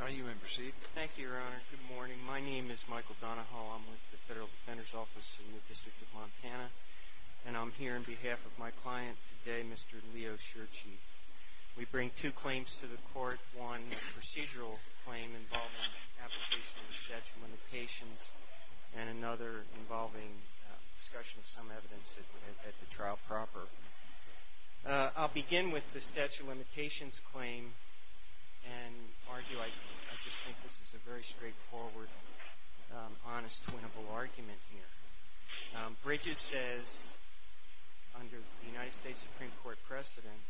Now you may proceed. Thank you, Your Honor. Good morning. My name is Michael Donahoe. I'm with the Federal Defender's Office in the District of Montana, and I'm here on behalf of my client today, Mr. Leo Scherzhe. We bring two claims to the court, one procedural claim involving application of the statute of limitations, and another involving discussion of some evidence at the trial proper. I'll begin with the statute of limitations claim and argue, I just think this is a very straightforward, honest, winnable argument here. Bridges says, under the United States Supreme Court precedent,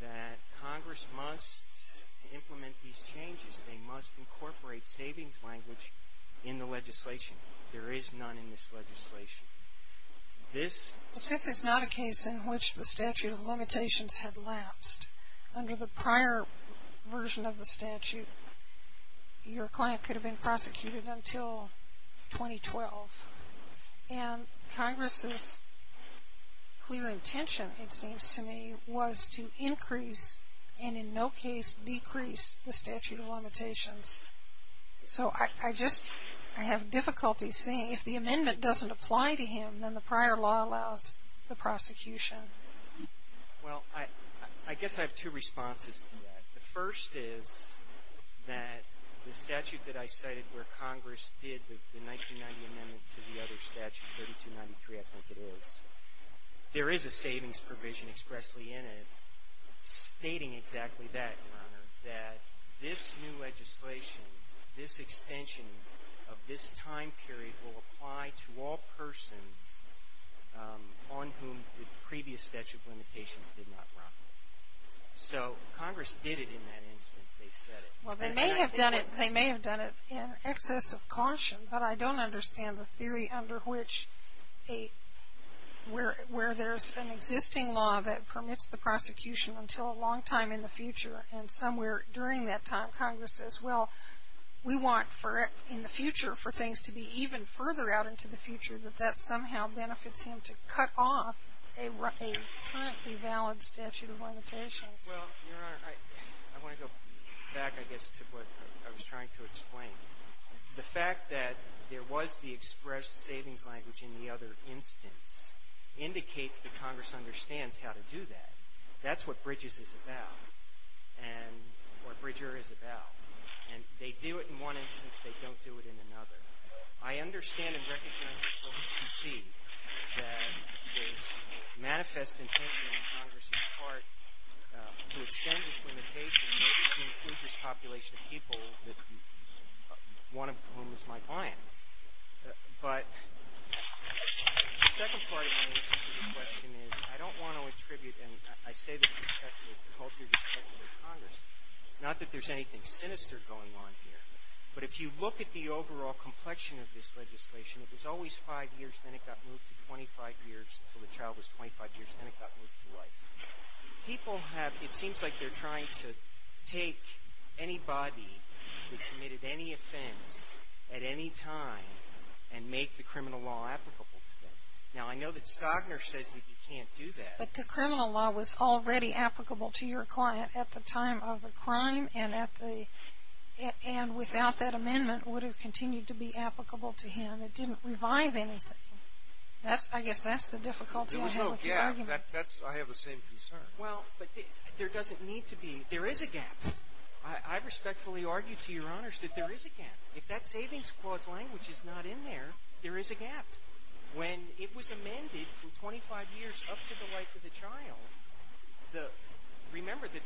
that Congress must implement these changes. They must incorporate savings language in the legislation. There is none in this legislation. This is not a case in which the statute of limitations had lapsed. Under the prior version of the statute, your client could have been prosecuted until 2012. And Congress's clear intention, it seems to me, was to increase, and in no case decrease, the statute of limitations. So I just, I have difficulty seeing, if the amendment doesn't apply to him, then the prior law allows the prosecution. Well, I guess I have two responses to that. The first is that the statute that I cited where Congress did the 1990 amendment to the other statute, 3293, I think it is, there is a savings provision expressly in it, stating exactly that, Your Honor, that this new legislation, this extension of this time period, will apply to all persons on whom the previous amendment did not apply. So Congress did it in that instance. They said it. Well, they may have done it in excess of caution, but I don't understand the theory under which a, where there's an existing law that permits the prosecution until a long time in the future, and somewhere during that time, Congress says, well, we want for, in the future, for things to be even further out into the future, that that somehow benefits him to cut off a currently valid statute of limitations. Well, Your Honor, I want to go back, I guess, to what I was trying to explain. The fact that there was the expressed savings language in the other instance indicates that Congress understands how to do that. That's what Bridges is about, and, or Bridger is about. And they do it in one instance. They don't do it in another. I understand and recognize at the OCC that there's manifest intention on Congress's part to extend this limitation to include this population of people, one of whom is my client. But the second part of my answer to your question is I don't want to attribute, and I say this with respect to the culture, with respect to the Congress, not that there's anything sinister going on here. But if you look at the overall complexion of this legislation, it was always five years, then it got moved to 25 years until the child was 25 years, then it got moved to life. People have, it seems like they're trying to take anybody who committed any offense at any time and make the criminal law applicable to them. Now, I know that Stagner says that you can't do that. But the criminal law was already applicable to your client at the time of the crime and at the, and without that amendment would it continue to be applicable to him? It didn't revive anything. That's, I guess that's the difficulty. There was no gap. That's, I have the same concern. Well, but there doesn't need to be. There is a gap. I respectfully argue to your honors that there is a gap. If that savings clause language is not in there, there is a gap. When it was amended from 25 years up to the life of the child, the, remember that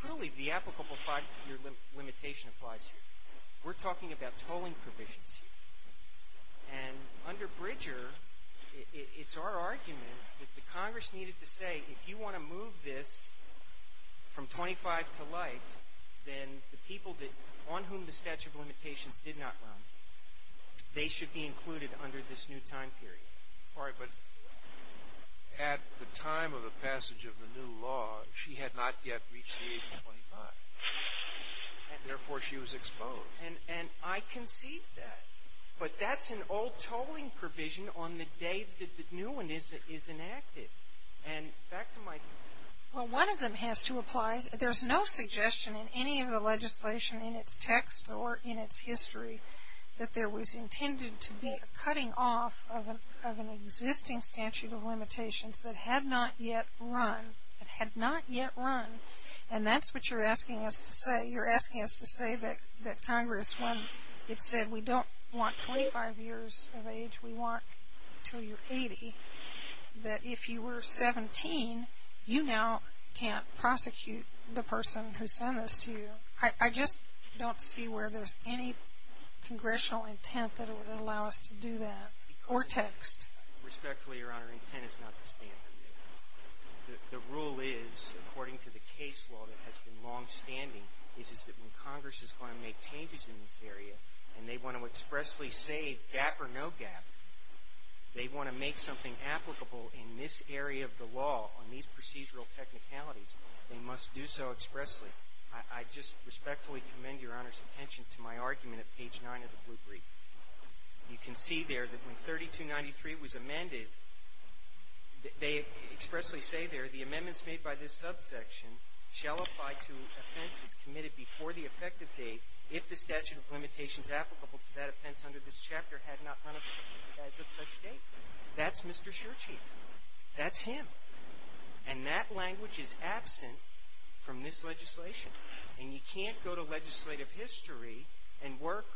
truly the applicable five-year limitation applies here. We're talking about tolling provisions here. And under Bridger, it's our argument that the Congress needed to say if you want to move this from 25 to life, then the people that, on whom the statute of limitations did not run, they should be included under this new time period. All right. But at the time of the passage of the new law, she had not yet reached the age of 25. And therefore, she was exposed. And I concede that. But that's an old tolling provision on the day that the new one is enacted. And back to my. Well, one of them has to apply. There's no suggestion in any of the legislation in its text or in its history that there was intended to be a cutting off of an existing statute of limitations that had not yet run. It had not yet run. And that's what you're asking us to say. When it said we don't want 25 years of age, we want until you're 80, that if you were 17, you now can't prosecute the person who sent this to you. I just don't see where there's any congressional intent that would allow us to do that or text. Respectfully, Your Honor, intent is not the standard. The rule is, according to the case law that has been longstanding, is that when Congress is going to make changes in this area and they want to expressly say gap or no gap, they want to make something applicable in this area of the law on these procedural technicalities, they must do so expressly. I just respectfully commend Your Honor's attention to my argument at page 9 of the blue brief. You can see there that when 3293 was amended, they expressly say there, the amendments made by this subsection shall apply to offenses committed before the effective date if the statute of limitations applicable to that offense under this chapter had not run as of such date. That's Mr. Shurchieff. That's him. And that language is absent from this legislation. And you can't go to legislative history and work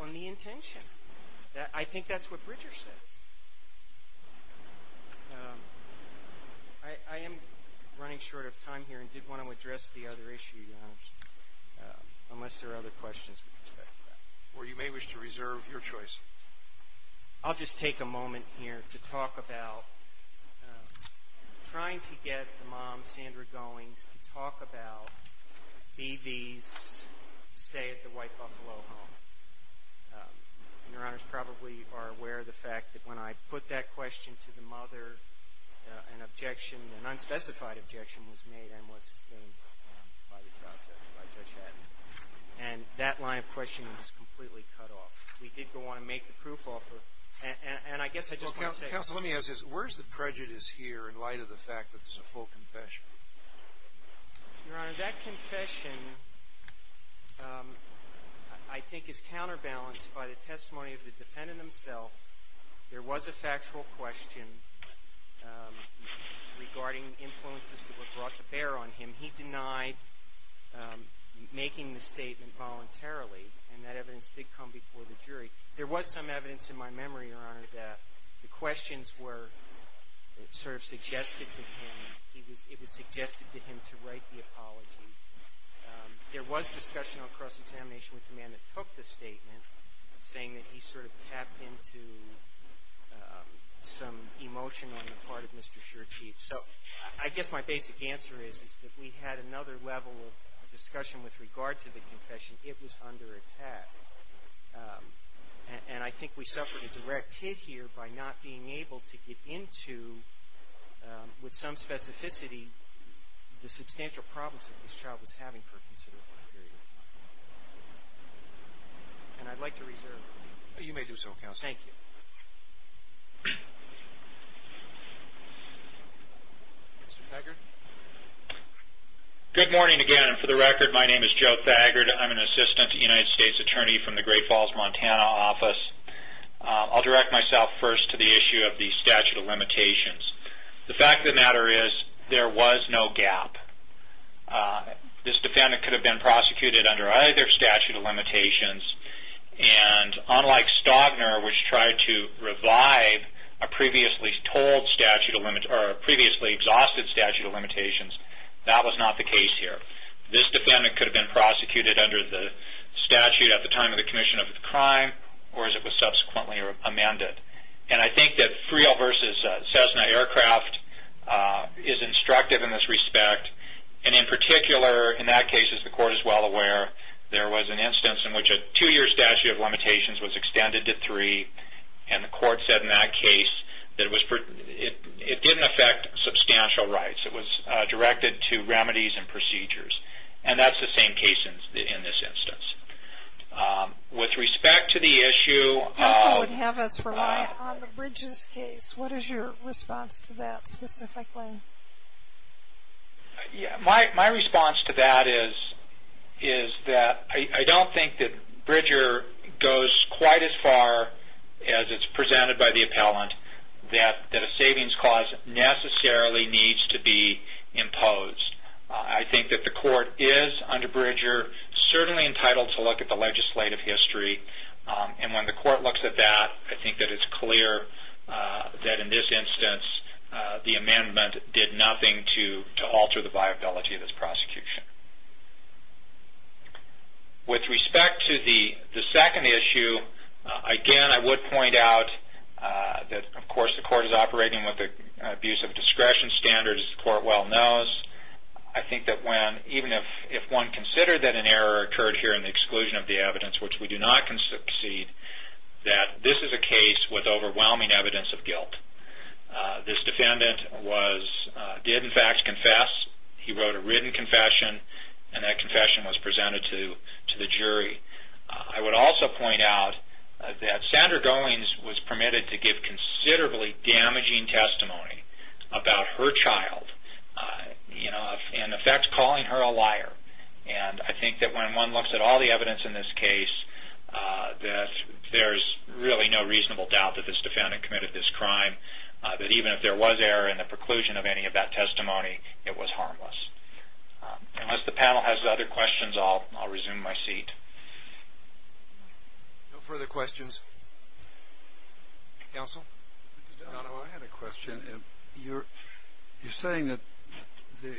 on the intention. I think that's what Bridger says. I am running short of time here and did want to address the other issue, Your Honor, unless there are other questions. Or you may wish to reserve your choice. I'll just take a moment here to talk about trying to get the mom, Sandra Goings, to talk about B.V.'s stay at the White Buffalo home. And Your Honors probably are aware of the fact that when I put that question to the mother, an objection, an unspecified objection was made and was sustained by the trial judge, by Judge Haddon. And that line of questioning was completely cut off. We did go on and make the proof offer. And I guess I just want to say — Counsel, let me ask this. Where's the prejudice here in light of the fact that this is a full confession? Your Honor, that confession I think is counterbalanced by the testimony of the defendant himself. There was a factual question regarding influences that were brought to bear on him. He denied making the statement voluntarily, and that evidence did come before the jury. There was some evidence in my memory, Your Honor, that the questions were sort of suggested to him. It was suggested to him to write the apology. There was discussion on cross-examination with the man that took the statement, saying that he sort of tapped into some emotion on the part of Mr. Shurchieff. So I guess my basic answer is that we had another level of discussion with regard to the confession. It was under attack. And I think we suffered a direct hit here by not being able to get into, with some specificity, the substantial problems that this child was having for a considerable period of time. And I'd like to reserve. You may do so, Counsel. Thank you. Mr. Thagard? Good morning again. For the record, my name is Joe Thagard. I'm an assistant United States attorney from the Great Falls, Montana, office. I'll direct myself first to the issue of the statute of limitations. The fact of the matter is there was no gap. This defendant could have been prosecuted under either statute of limitations. And unlike Staubner, which tried to revive a previously told statute of limitations or a previously exhausted statute of limitations, that was not the case here. This defendant could have been prosecuted under the statute at the time of the commission of the crime or as it was subsequently amended. And I think that Friel v. Cessna Aircraft is instructive in this respect. And in particular, in that case, as the Court is well aware, there was an instance in which a two-year statute of limitations was extended to three. And the Court said in that case that it didn't affect substantial rights. It was directed to remedies and procedures. And that's the same case in this instance. With respect to the issue of the bridges case, what is your response to that specifically? My response to that is that I don't think that Bridger goes quite as far as it's presented by the appellant that a savings clause necessarily needs to be imposed. I think that the Court is, under Bridger, certainly entitled to look at the legislative history. And when the Court looks at that, I think that it's clear that in this instance, the amendment did nothing to alter the viability of this prosecution. With respect to the second issue, again, I would point out that, of course, the Court is operating with an abuse of discretion standard, as the Court well knows. I think that even if one considered that an error occurred here in the exclusion of the evidence, which we do not concede, that this is a case with overwhelming evidence of guilt. This defendant did, in fact, confess. He wrote a written confession, and that confession was presented to the jury. I would also point out that Sandra Goings was permitted to give considerably damaging testimony about her child, in effect calling her a liar. And I think that when one looks at all the evidence in this case, that there's really no reasonable doubt that this defendant committed this crime, that even if there was error in the preclusion of any of that testimony, it was harmless. Unless the panel has other questions, I'll resume my seat. No further questions? Counsel? I had a question. You're saying that the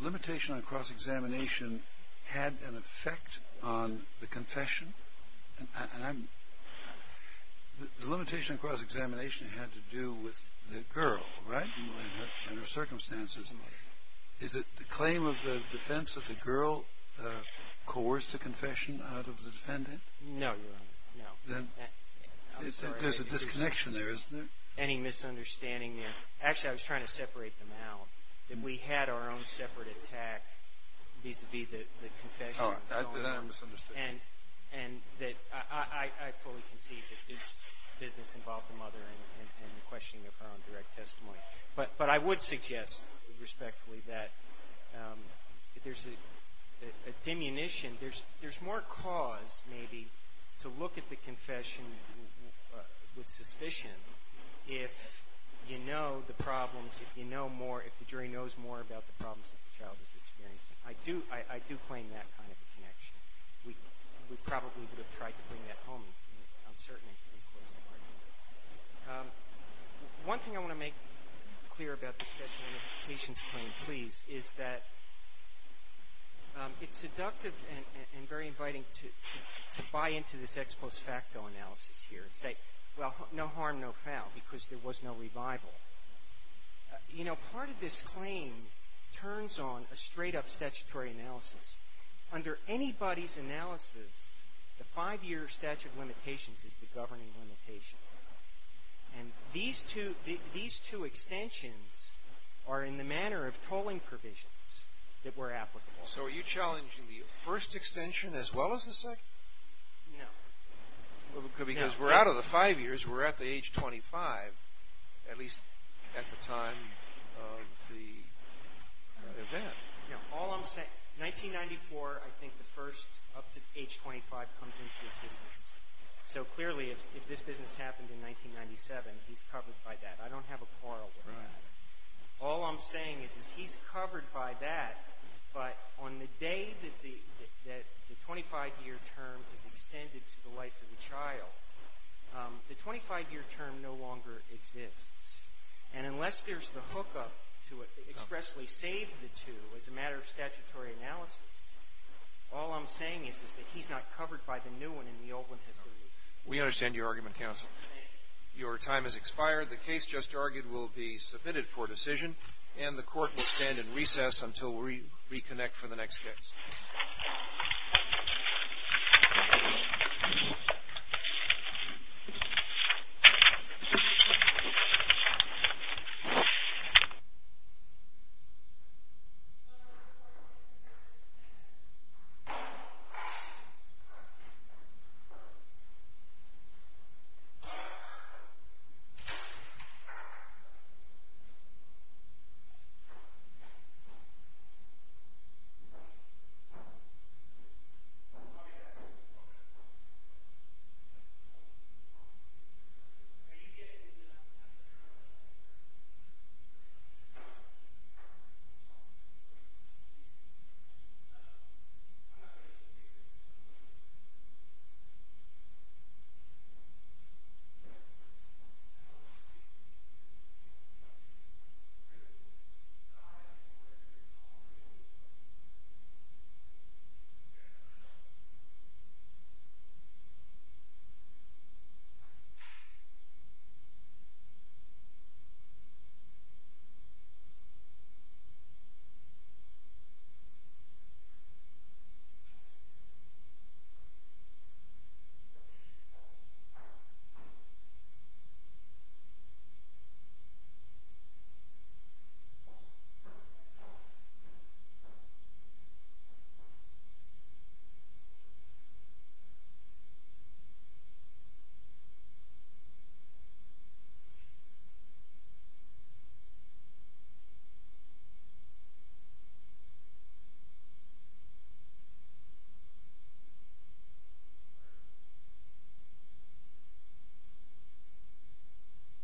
limitation on cross-examination had an effect on the confession? The limitation on cross-examination had to do with the girl, right, and her circumstances. Is it the claim of the defense that the girl coerced a confession out of the defendant? No, Your Honor, no. There's a disconnection there, isn't there? Any misunderstanding there? Actually, I was trying to separate them out, that we had our own separate attack vis-à-vis the confession. Oh, I misunderstood. And that I fully concede that this business involved the mother and the questioning of her own direct testimony. But I would suggest, respectfully, that there's a diminution. There's more cause, maybe, to look at the confession with suspicion if you know the problems, if you know more, if the jury knows more about the problems that the child is experiencing. I do claim that kind of a connection. We probably would have tried to bring that home, I'm certain. One thing I want to make clear about the statute of limitations claim, please, is that it's seductive and very inviting to buy into this ex post facto analysis here and say, well, no harm, no foul, because there was no revival. You know, part of this claim turns on a straight-up statutory analysis. Under anybody's analysis, the five-year statute of limitations is the governing limitation. And these two extensions are in the manner of tolling provisions that were applicable. So are you challenging the first extension as well as the second? No. Because we're out of the five years. We're at the age 25, at least at the time of the event. You know, all I'm saying, 1994, I think the first up to age 25 comes into existence. So clearly if this business happened in 1997, he's covered by that. I don't have a quarrel with that. All I'm saying is he's covered by that, but on the day that the 25-year term is extended to the life of the child, the 25-year term no longer exists. And unless there's the hookup to expressly save the two as a matter of statutory analysis, all I'm saying is that he's not covered by the new one and the old one has been used. We understand your argument, counsel. Your time has expired. The case just argued will be submitted for decision, and the Court will stand in recess until we reconnect for the next case. Thank you. Thank you. Thank you. Thank you. Thank you. Thank you. Good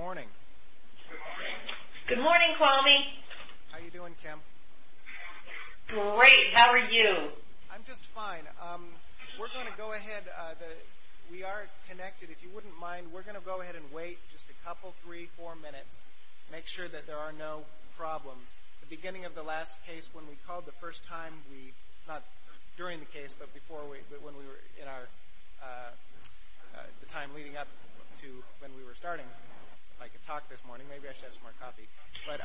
morning. Good morning. Good morning, Kwame. How are you doing, Kim? Great. How are you? I'm just fine. We're going to go ahead. We are connected. If you wouldn't mind, we're going to go ahead and wait just a couple, three, four minutes, make sure that there are no problems. The beginning of the last case, when we called the first time, not during the case, but when we were in our time leading up to when we were starting, I could talk this morning. Maybe I should have some more coffee. But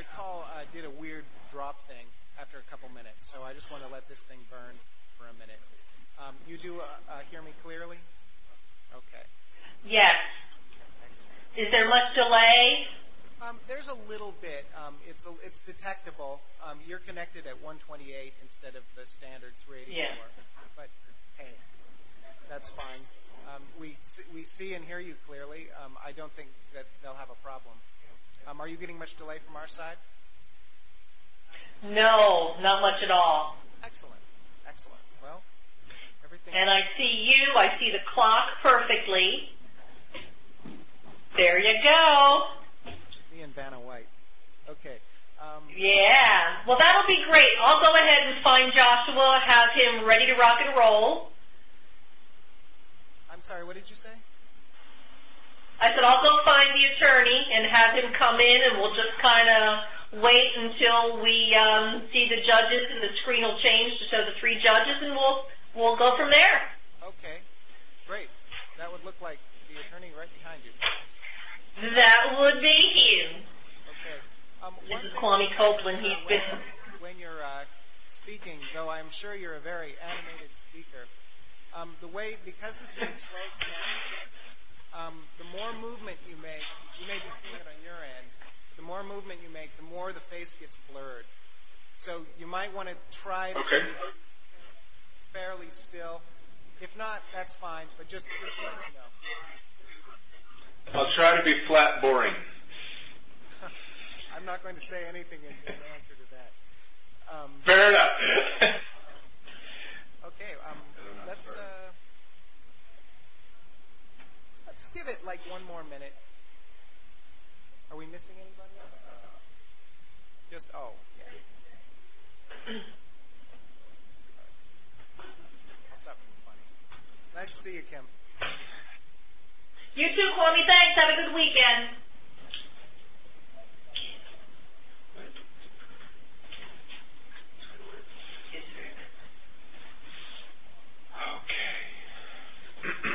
the call did a weird drop thing after a couple minutes, so I just want to let this thing burn for a minute. You do hear me clearly? Okay. Yes. Is there much delay? There's a little bit. It's detectable. You're connected at 128 instead of the standard 384. Yes. But, hey, that's fine. We see and hear you clearly. I don't think that they'll have a problem. Are you getting much delay from our side? No, not much at all. Excellent, excellent. And I see you. I see the clock perfectly. There you go. Me and Vanna White. Okay. Yeah. Well, that would be great. I'll go ahead and find Joshua, have him ready to rock and roll. I'm sorry. What did you say? I said I'll go find the attorney and have him come in, and we'll just kind of wait until we see the judges and the screen will change to show the three judges, and we'll go from there. Okay. Great. That would look like the attorney right behind you, please. That would be you. Okay. This is Kwame Copeland. When you're speaking, though I'm sure you're a very animated speaker, because this is right now, the more movement you make, you may be seeing it on your end, the more movement you make, the more the face gets blurred. So you might want to try to be fairly still. If not, that's fine. But just so you know. I'll try to be flat boring. I'm not going to say anything in answer to that. Fair enough. Okay. Let's give it, like, one more minute. Are we missing anybody? Just oh, yeah. I'll stop being funny. Nice to see you, Kim. You too, Kwame. Thanks. Have a good weekend. Okay.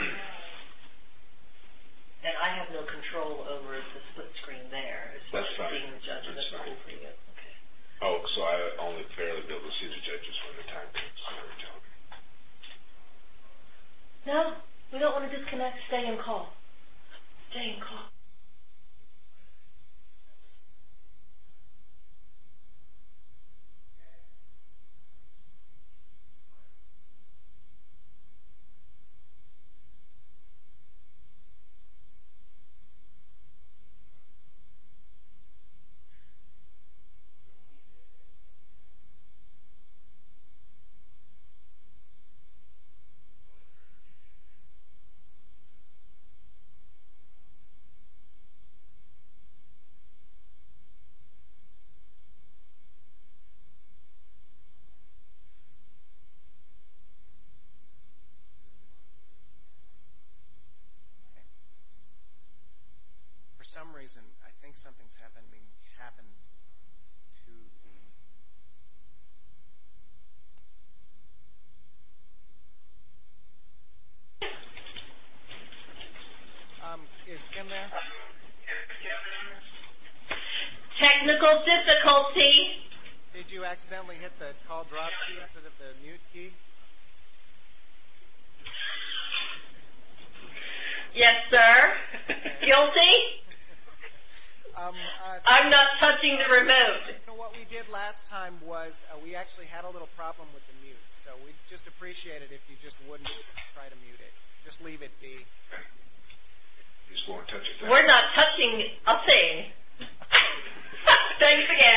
And I have no control over the split screen there. That's fine. That's fine. Okay. Oh, so I only fairly don't see the judges when the time comes. No, we don't want to disconnect. Stay in call. Okay. For some reason, I think something's happened to. Is Kim there? Technical difficulty. Did you accidentally hit the call drop key instead of the mute key? Yes, sir. Guilty? I'm not touching the remote. What we did last time was we actually had a little problem with the mute, so we'd just appreciate it if you just wouldn't try to mute it. Just leave it be. We're not touching a thing. Thanks again. Okay. Bye. Bye. Bye. Bye. Bye. Bye. Bye. Bye. Bye. Bye. Bye.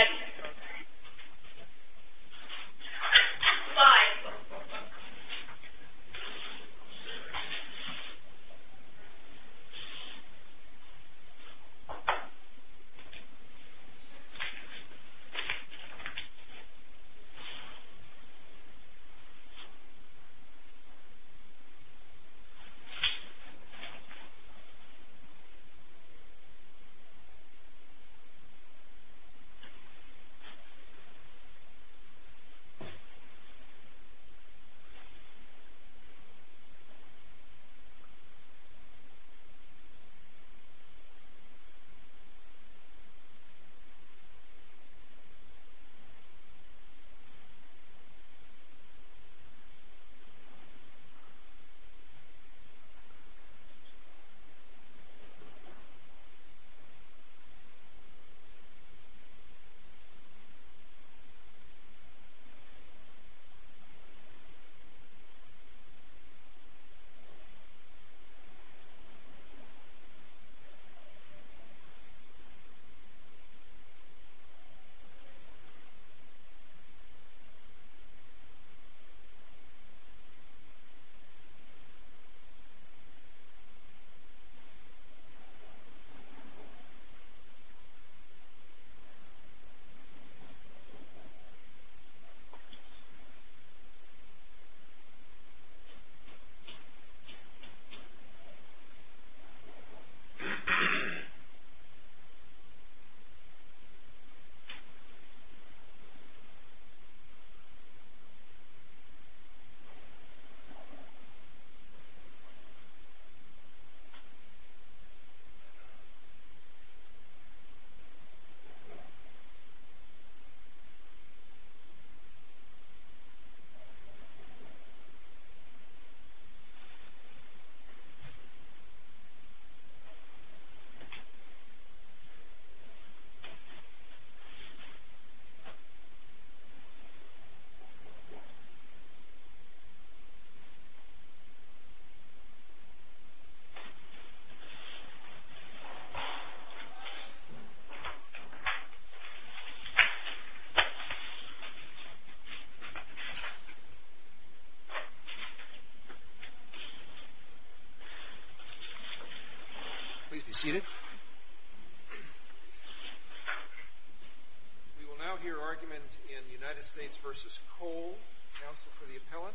Bye. Bye. Bye. Please be seated. We will now hear argument in United States versus Cole. Counsel for the appellant.